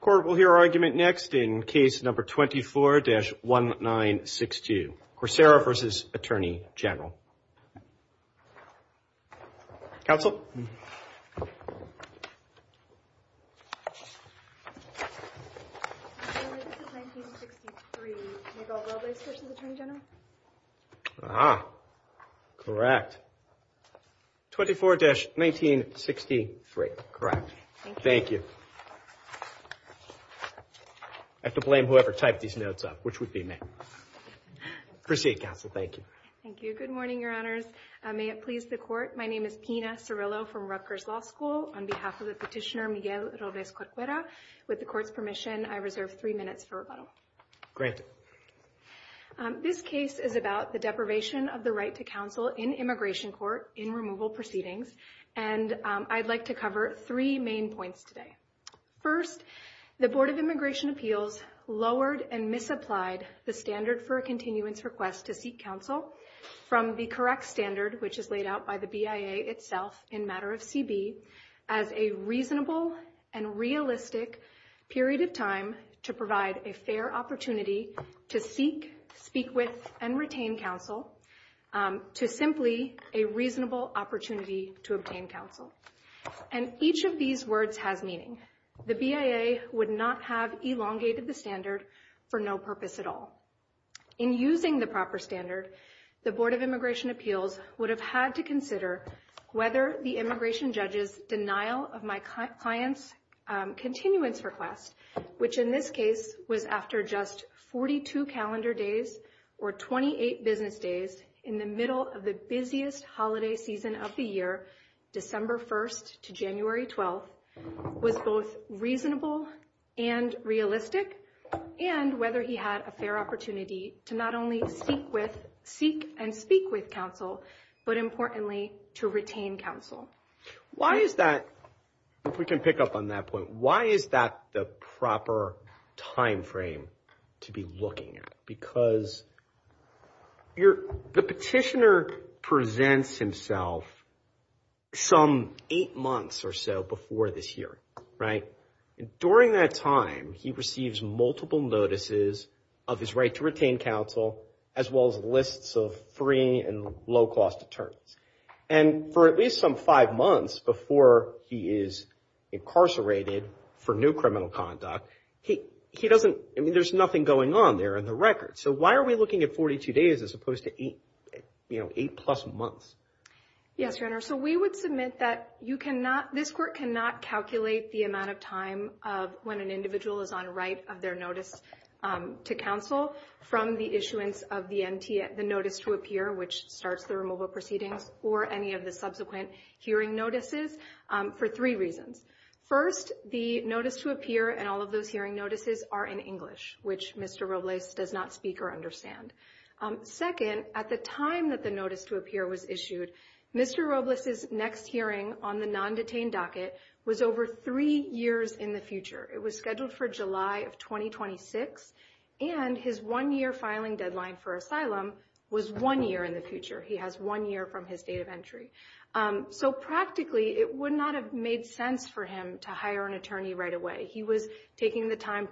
Court will hear argument next in case number 24-1962. Coursera v. Attorney General. Ah, correct. 24-1963. Correct. Thank you. I have to blame whoever typed these notes up, which would be me. Proceed, Counsel. Thank you. Thank you. Good morning, Your Honors. May it please the Court, my name is Martina Cirillo from Rutgers Law School. On behalf of the petitioner, Miguel Rovés Corcuera, with the Court's permission, I reserve three minutes for rebuttal. Granted. This case is about the deprivation of the right to counsel in immigration court in removal proceedings, and I'd like to cover three main points today. First, the Board of Immigration Appeals lowered and misapplied the standard for a continuance request to seek counsel. from the correct standard, which is laid out by the BIA itself in matter of CB, as a reasonable and realistic period of time to provide a fair opportunity to seek, speak with, and retain counsel, to simply a reasonable opportunity to obtain counsel. And each of these words has meaning. The BIA would not have elongated the standard for no purpose at all. In using the proper standard, the Board of Immigration Appeals would have had to consider whether the immigration judge's denial of my client's continuance request, which in this case was after just 42 calendar days or 28 business days in the middle of the busiest holiday season of the year, December 1st to January 12th, was both reasonable and realistic, and whether he had a fair opportunity to not only seek and speak with counsel, but importantly, to retain counsel. Why is that, if we can pick up on that point, why is that the proper timeframe to be looking at? Because the petitioner presents himself some eight months or so before this hearing, right? During that time, he receives multiple notices of his right to retain counsel, as well as lists of free and low-cost attorneys. And for at least some five months before he is incarcerated for new criminal conduct, he doesn't, I mean, there's nothing going on there in the record. So why are we looking at 42 days as opposed to eight, you know, eight-plus months? Yes, Your Honor, so we would submit that you cannot, this court cannot calculate the amount of time of when an individual is on a right of their notice to counsel from the issuance of the notice to appear, which starts the removal proceedings, or any of the subsequent hearing notices, for three reasons. First, the notice to appear and all of those hearing notices are in English, which Mr. Robles does not speak or understand. Second, at the time that the notice to appear was issued, Mr. Robles' next hearing on the non-detained docket was over three years in the future. It was scheduled for July of 2026, and his one-year filing deadline for asylum was one year in the future. He has one year from his date of entry. So practically, it would not have made sense for him to hire an attorney right away. He was taking the time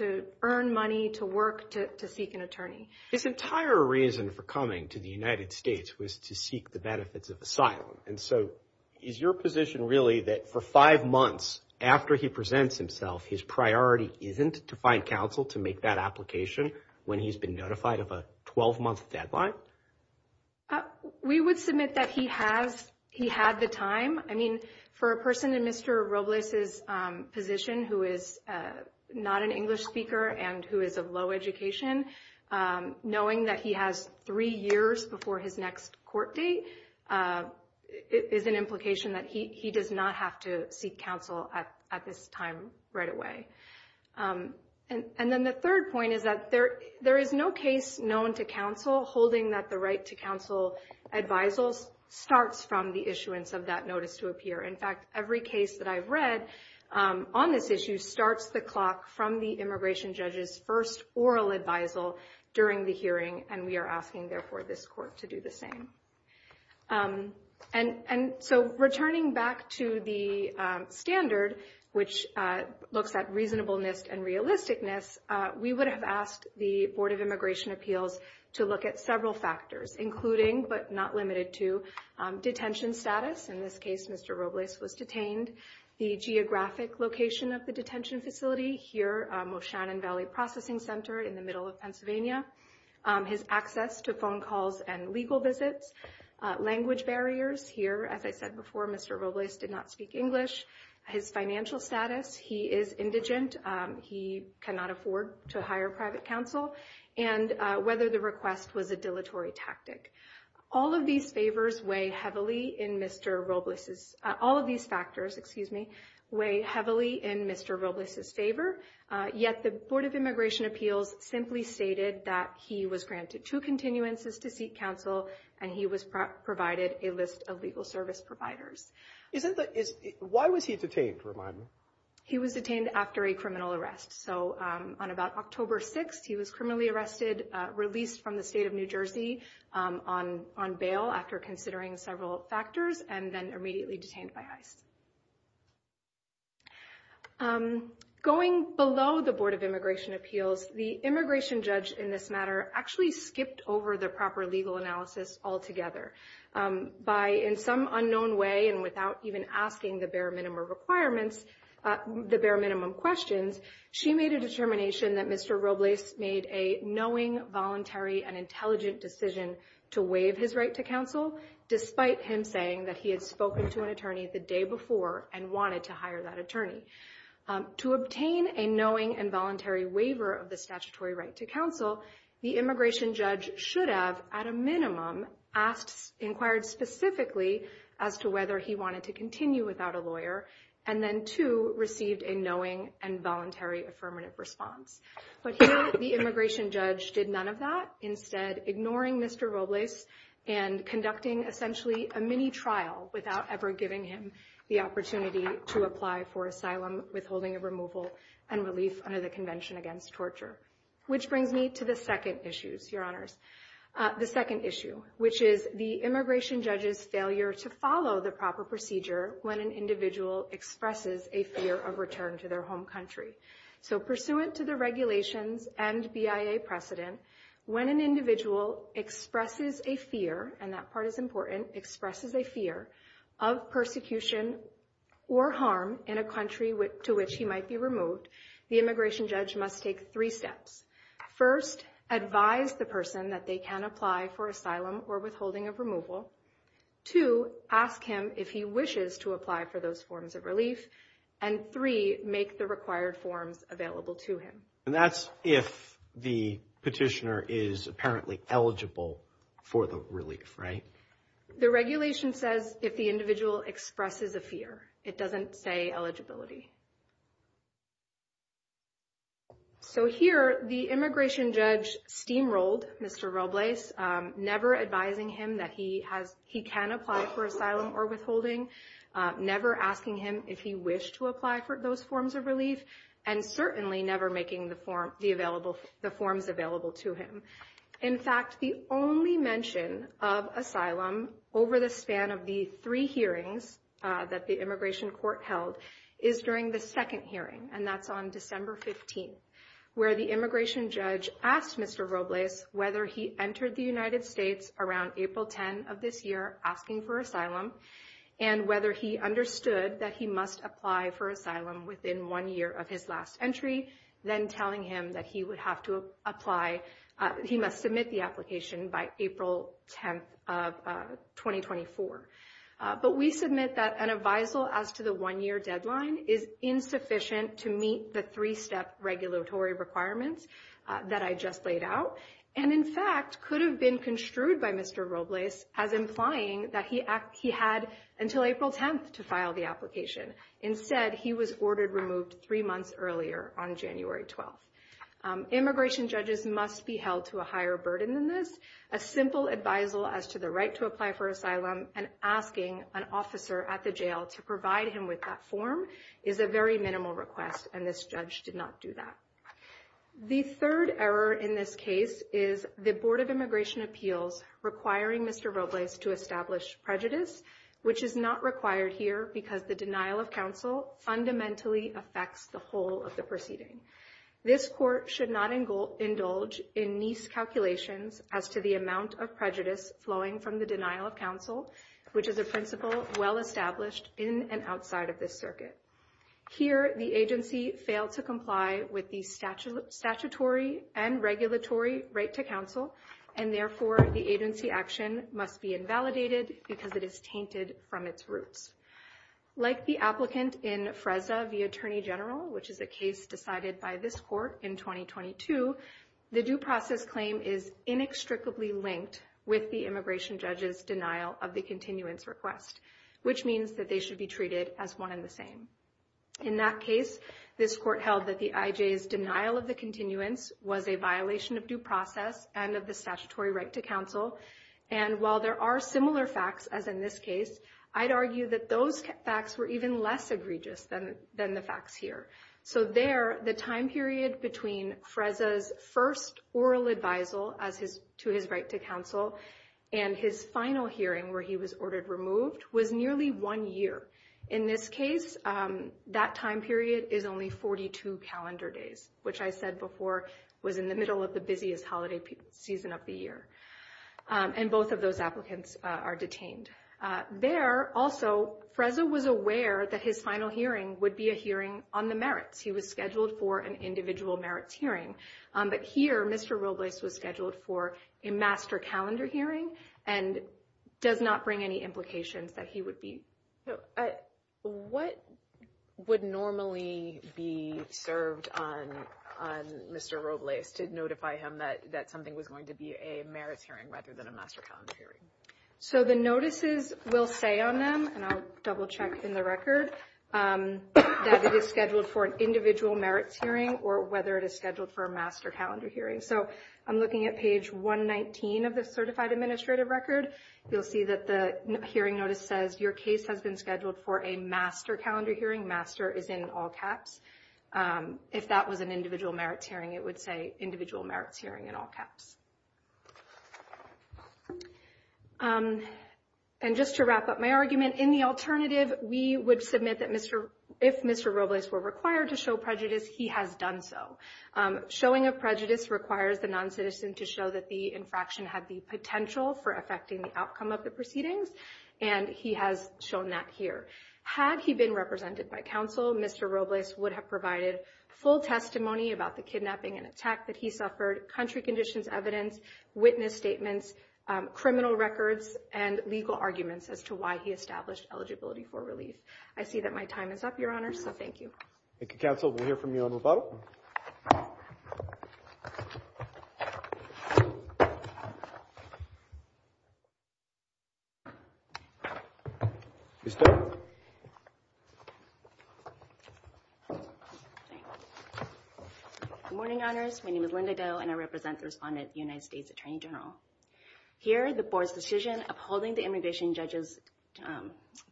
to earn money, to work, to seek an attorney. His entire reason for coming to the United States was to seek the benefits of asylum. And so is your position really that for five months after he presents himself, his priority isn't to find counsel to make that application when he's been notified of a 12-month deadline? We would submit that he had the time. I mean, for a person in Mr. Robles' position who is not an English speaker and who is of low education, knowing that he has three years before his next court date is an implication that he does not have to seek counsel at this time right away. And then the third point is that there is no case known to counsel holding that the right to counsel advisals starts from the issuance of that notice to appear. In fact, every case that I've read on this issue starts the clock from the immigration judge's first oral advisal during the hearing, and we are asking, therefore, this court to do the same. And so returning back to the standard, which looks at reasonableness and realisticness, we would have asked the Board of Immigration Appeals to look at several factors, including, but not limited to, detention status. In this case, Mr. Robles was detained. The geographic location of the detention facility here, Moshannon Valley Processing Center in the middle of Pennsylvania. His access to phone calls and legal visits. Language barriers. Here, as I said before, Mr. Robles did not speak English. His financial status. He is indigent. He cannot afford to hire private counsel. And whether the request was a dilatory tactic. All of these favors weigh heavily in Mr. Robles's – all of these factors, excuse me, weigh heavily in Mr. Robles's favor. Yet the Board of Immigration Appeals simply stated that he was granted two continuances to seek counsel, and he was provided a list of legal service providers. Why was he detained, remind me? He was detained after a criminal arrest. So on about October 6th, he was criminally arrested, released from the state of New Jersey on bail after considering several factors, and then immediately detained by ICE. Going below the Board of Immigration Appeals, the immigration judge in this matter actually skipped over the proper legal analysis altogether. By in some unknown way and without even asking the bare minimum requirements, the bare minimum questions, she made a determination that Mr. Robles made a knowing, voluntary, and intelligent decision to waive his right to counsel, despite him saying that he had spoken to an attorney the day before and wanted to hire that attorney. To obtain a knowing and voluntary waiver of the statutory right to counsel, the immigration judge should have, at a minimum, inquired specifically as to whether he wanted to continue without a lawyer, and then, too, received a knowing and voluntary affirmative response. But here, the immigration judge did none of that, instead ignoring Mr. Robles and conducting, essentially, a mini-trial without ever giving him the opportunity to apply for asylum, withholding of removal, and relief under the Convention Against Torture. Which brings me to the second issue, which is the immigration judge's failure to follow the proper procedure when an individual expresses a fear of return to their home country. So, pursuant to the regulations and BIA precedent, when an individual expresses a fear, and that part is important, expresses a fear of persecution or harm in a country to which he might be removed, the immigration judge must take three steps. First, advise the person that they can apply for asylum or withholding of removal. Two, ask him if he wishes to apply for those forms of relief. And three, make the required forms available to him. And that's if the petitioner is apparently eligible for the relief, right? The regulation says if the individual expresses a fear. It doesn't say eligibility. So here, the immigration judge steamrolled Mr. Robles, never advising him that he can apply for asylum or withholding, never asking him if he wished to apply for those forms of relief, and certainly never making the forms available to him. In fact, the only mention of asylum over the span of the three hearings that the immigration court held is during the second hearing, and that's on December 15th, where the immigration judge asked Mr. Robles whether he entered the United States around April 10 of this year, asking for asylum, and whether he understood that he must apply for asylum within one year of his last entry, then telling him that he would have to apply, he must submit the application by April 10th of 2024. But we submit that an advisal as to the one-year deadline is insufficient to meet the three-step regulatory requirements that I just laid out, and in fact could have been construed by Mr. Robles as implying that he had until April 10th to file the application. Instead, he was ordered removed three months earlier on January 12th. Immigration judges must be held to a higher burden than this. A simple advisal as to the right to apply for asylum and asking an officer at the jail to provide him with that form is a very minimal request, and this judge did not do that. The third error in this case is the Board of Immigration Appeals requiring Mr. Robles to establish prejudice, which is not required here because the denial of counsel fundamentally affects the whole of the proceeding. This court should not indulge in nice calculations as to the amount of prejudice flowing from the denial of counsel, which is a principle well established in and outside of this circuit. Here, the agency failed to comply with the statutory and regulatory right to counsel, and therefore the agency action must be invalidated because it is tainted from its roots. Like the applicant in FRESA v. Attorney General, which is a case decided by this court in 2022, the due process claim is inextricably linked with the immigration judge's denial of the continuance request, which means that they should be treated as one and the same. In that case, this court held that the IJ's denial of the continuance was a violation of due process and of the statutory right to counsel, and while there are similar facts as in this case, I'd argue that those facts were even less egregious than the facts here. So there, the time period between FRESA's first oral advisal to his right to counsel and his final hearing where he was ordered removed was nearly one year. In this case, that time period is only 42 calendar days, which I said before was in the middle of the busiest holiday season of the year, and both of those applicants are detained. There, also, FRESA was aware that his final hearing would be a hearing on the merits. He was scheduled for an individual merits hearing, but here Mr. Robles was scheduled for a master calendar hearing and does not bring any implications that he would be. So what would normally be served on Mr. Robles to notify him that something was going to be a merits hearing rather than a master calendar hearing? So the notices will say on them, and I'll double check in the record, that it is scheduled for an individual merits hearing or whether it is scheduled for a master calendar hearing. So I'm looking at page 119 of the certified administrative record. You'll see that the hearing notice says, Your case has been scheduled for a master calendar hearing. Master is in all caps. If that was an individual merits hearing, it would say individual merits hearing in all caps. And just to wrap up my argument, in the alternative, we would submit that if Mr. Robles were required to show prejudice, he has done so. Showing of prejudice requires the noncitizen to show that the infraction had the potential for affecting the outcome of the proceedings, and he has shown that here. Had he been represented by counsel, Mr. Robles would have provided full testimony about the kidnapping and attack that he suffered, country conditions evidence, witness statements, criminal records, and legal arguments as to why he established eligibility for relief. I see that my time is up, Your Honor, so thank you. Thank you, counsel. We'll hear from you on rebuttal. Good morning, Honors. My name is Linda Doe, and I represent the respondent, the United States Attorney General. Here, the board's decision upholding the immigration judge's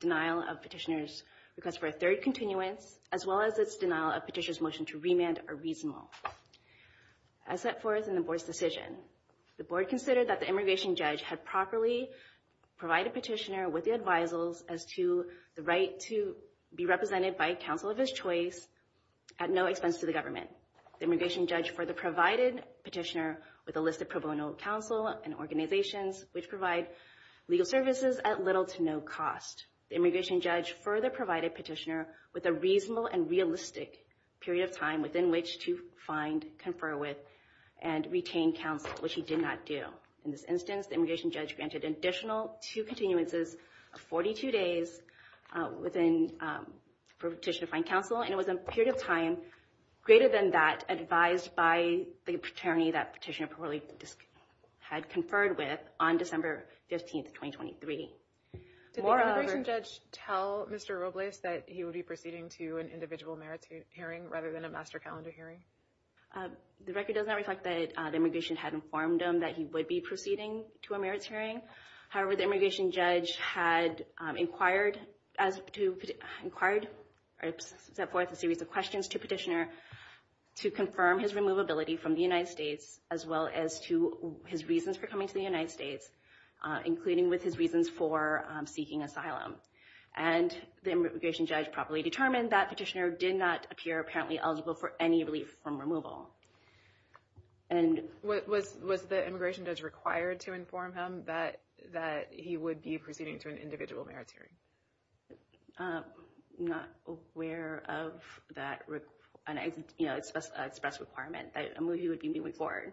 denial of petitioner's request for a third continuance, as well as its denial of petitioner's motion to remand are reasonable. As set forth in the board's decision, the board considered that the immigration judge had properly provided petitioner with the advisals as to the right to be represented by counsel of his choice at no expense to the government. The immigration judge further provided petitioner with a list of pro bono counsel and organizations which provide legal services at little to no cost. The immigration judge further provided petitioner with a reasonable and realistic period of time within which to find, confer with, and retain counsel, which he did not do. In this instance, the immigration judge granted an additional two continuances of 42 days for petitioner to find counsel, and it was a period of time greater than that advised by the attorney that petitioner had conferred with on December 15, 2023. Did the immigration judge tell Mr. Robles that he would be proceeding to an individual merits hearing rather than a master calendar hearing? The record does not reflect that the immigration had informed him that he would be proceeding to a merits hearing. However, the immigration judge had inquired as to inquired or set forth a series of questions to petitioner to confirm his removability from the United States, as well as to his reasons for coming to the United States, including with his reasons for seeking asylum. And the immigration judge properly determined that petitioner did not appear apparently eligible for any relief from removal. And what was was the immigration judge required to inform him that that he would be proceeding to an individual merits hearing? I'm not aware of that. And, you know, it's best to express requirement that a movie would be moving forward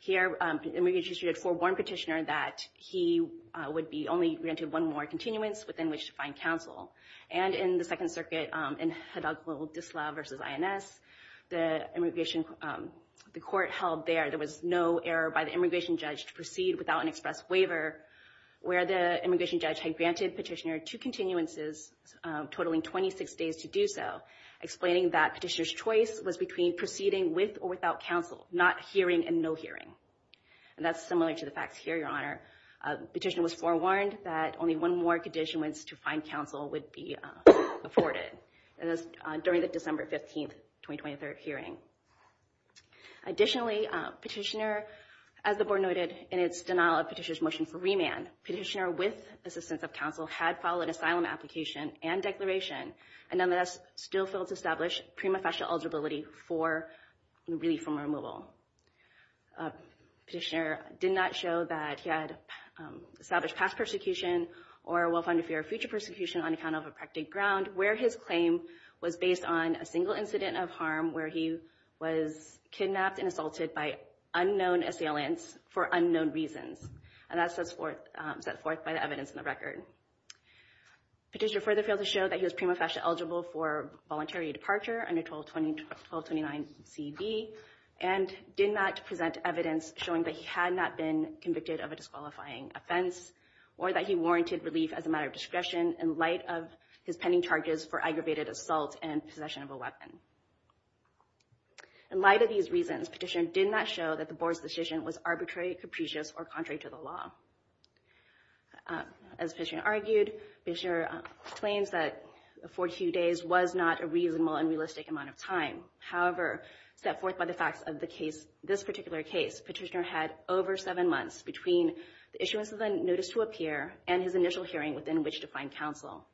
here. And we just read for one petitioner that he would be only granted one more continuance within which to find counsel. And in the Second Circuit and had a little disloyal versus INS, the immigration, the court held there. There was no error by the immigration judge to proceed without an express waiver where the immigration judge had granted petitioner to continuances, totaling 26 days to do so, explaining that petitioner's choice was between proceeding with or without counsel, not hearing and no hearing. And that's similar to the facts here, Your Honor. Petitioner was forewarned that only one more condition went to find counsel would be afforded. And that's during the December 15th, 2023 hearing. Additionally, petitioner, as the board noted in its denial of petitioner's motion for remand, petitioner with assistance of counsel had filed an asylum application and declaration, and nonetheless still failed to establish prima facie eligibility for relief from removal. Petitioner did not show that he had established past persecution or will find a future persecution on account of a practiced ground, where his claim was based on a single incident of harm where he was kidnapped and assaulted by unknown assailants for unknown reasons. And that's set forth by the evidence in the record. Petitioner further failed to show that he was prima facie eligible for voluntary departure under 1229CB. And did not present evidence showing that he had not been convicted of a disqualifying offense or that he warranted relief as a matter of discretion in light of his pending charges for aggravated assault and possession of a weapon. In light of these reasons, petitioner did not show that the board's decision was arbitrary, capricious or contrary to the law. As petitioner argued, petitioner claims that 42 days was not a reasonable and realistic amount of time. However, set forth by the facts of this particular case, petitioner had over seven months between the issuance of the Notice to Appear and his initial hearing within which to find counsel.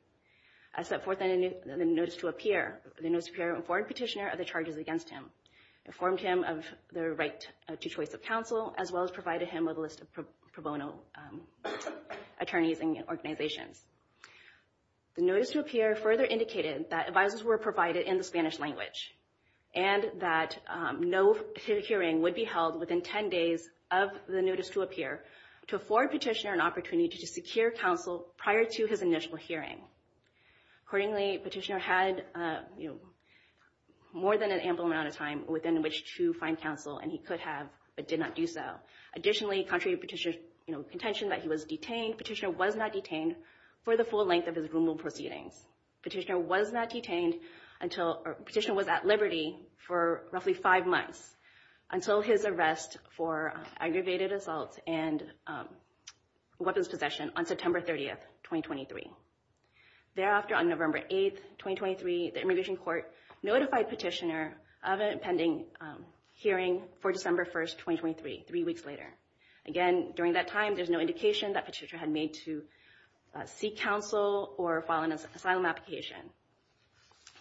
As set forth in the Notice to Appear, the Notice to Appear informed petitioner of the charges against him, informed him of the right to choice of counsel, as well as provided him with a list of pro bono attorneys and organizations. The Notice to Appear further indicated that advisers were provided in the Spanish language and that no hearing would be held within 10 days of the Notice to Appear to afford petitioner an opportunity to secure counsel prior to his initial hearing. Accordingly, petitioner had more than an ample amount of time within which to find counsel and he could have but did not do so. Additionally, contrary to petitioner's contention that he was detained, petitioner was not detained for the full length of his rule proceedings. Petitioner was not detained until petitioner was at liberty for roughly five months until his arrest for aggravated assault and weapons possession on September 30, 2023. Thereafter, on November 8, 2023, the Immigration Court notified petitioner of an impending hearing for December 1, 2023, three weeks later. Again, during that time, there's no indication that petitioner had made to seek counsel or file an asylum application.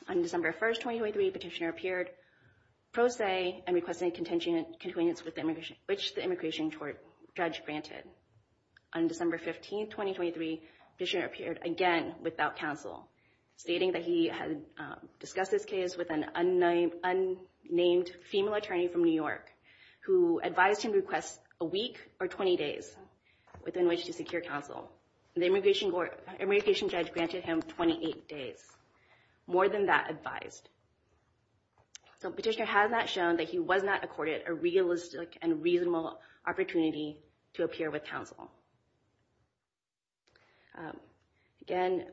On December 1, 2023, petitioner appeared pro se and requested a contingency with which the Immigration Court judge granted. On December 15, 2023, petitioner appeared again without counsel, stating that he had discussed this case with an unnamed female attorney from New York who advised him to request a week or 20 days within which to secure counsel. The Immigration Judge granted him 28 days. More than that advised. Petitioner has not shown that he was not accorded a realistic and reasonable opportunity to appear with counsel. Again,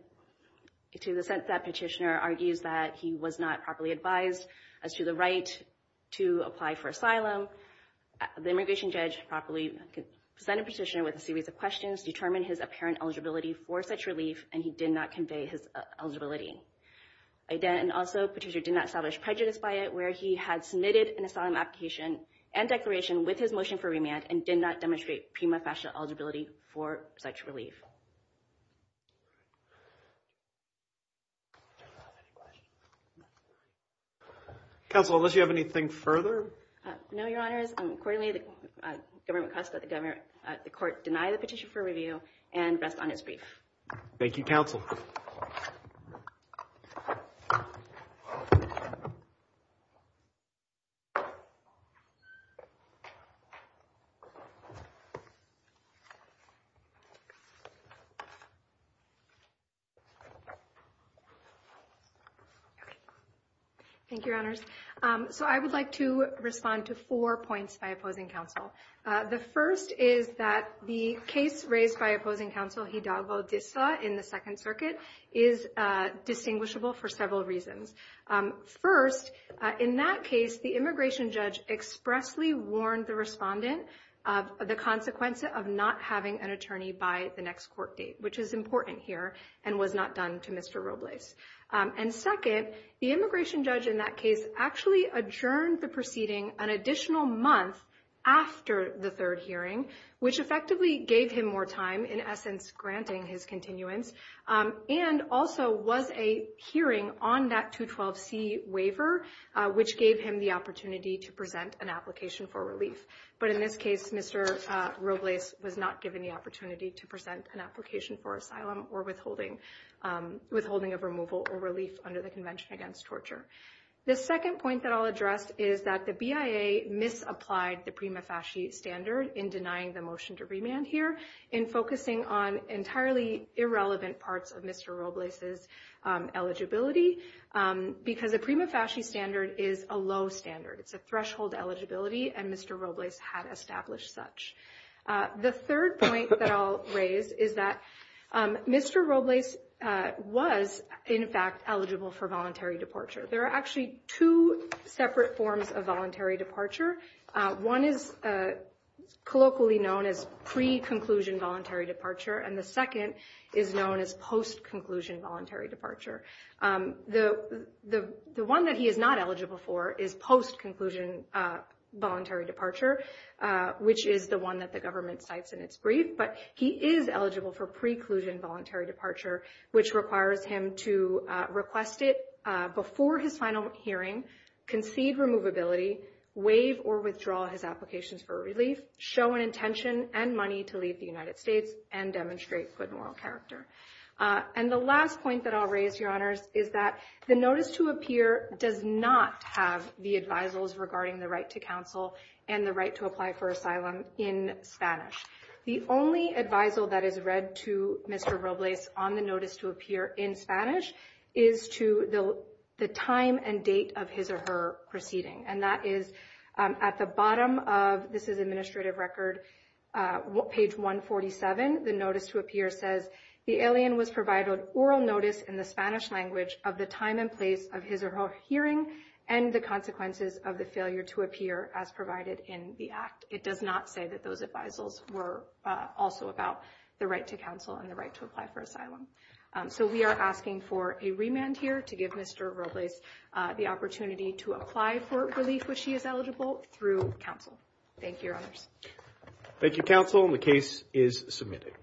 to the sense that petitioner argues that he was not properly advised as to the right to apply for asylum, the Immigration Judge properly presented petitioner with a series of questions, determined his apparent eligibility for such relief, and he did not convey his eligibility. Again, also, petitioner did not establish prejudice by it, where he had submitted an asylum application and declaration with his motion for remand and did not demonstrate prima facie eligibility for such relief. Counsel, unless you have anything further? No, Your Honors. Accordingly, the government costs that the court deny the petition for review and rest on its brief. Thank you, Counsel. Thank you. Thank you, Your Honors. So I would like to respond to four points by opposing counsel. The first is that the case raised by opposing counsel Hidalgo Dissa in the Second Circuit is distinguishable for several reasons. First, in that case, the Immigration Judge expressly warned the respondent of the consequence of not having an attorney by the next court date, which is important here and was not done to Mr. Robles. And second, the Immigration Judge in that case actually adjourned the proceeding an additional month after the third hearing, which effectively gave him more time, in essence, granting his continuance, and also was a hearing on that 212C waiver, which gave him the opportunity to present an application for relief. But in this case, Mr. Robles was not given the opportunity to present an application for asylum or withholding of removal or relief under the Convention Against Torture. The second point that I'll address is that the BIA misapplied the prima facie standard in denying the motion to remand here in focusing on entirely irrelevant parts of Mr. Robles's eligibility, because the prima facie standard is a low standard. It's a threshold eligibility, and Mr. Robles had established such. The third point that I'll raise is that Mr. Robles was, in fact, eligible for voluntary departure. There are actually two separate forms of voluntary departure. One is colloquially known as pre-conclusion voluntary departure, and the second is known as post-conclusion voluntary departure. The one that he is not eligible for is post-conclusion voluntary departure, which is the one that the government cites in its brief. But he is eligible for pre-conclusion voluntary departure, which requires him to request it before his final hearing, concede removability, waive or withdraw his applications for relief, show an intention, and money to leave the United States, and demonstrate good moral character. And the last point that I'll raise, Your Honors, is that the notice to appear does not have the advisals regarding the right to counsel and the right to apply for asylum in Spanish. The only advisal that is read to Mr. Robles on the notice to appear in Spanish is to the time and date of his or her proceeding. And that is at the bottom of, this is administrative record, page 147, the notice to appear says, the alien was provided oral notice in the Spanish language of the time and place of his or her hearing and the consequences of the failure to appear as provided in the act. It does not say that those advisals were also about the right to counsel and the right to apply for asylum. So we are asking for a remand here to give Mr. Robles the opportunity to apply for relief when she is eligible through counsel. Thank you, Your Honors. Thank you, counsel, and the case is submitted.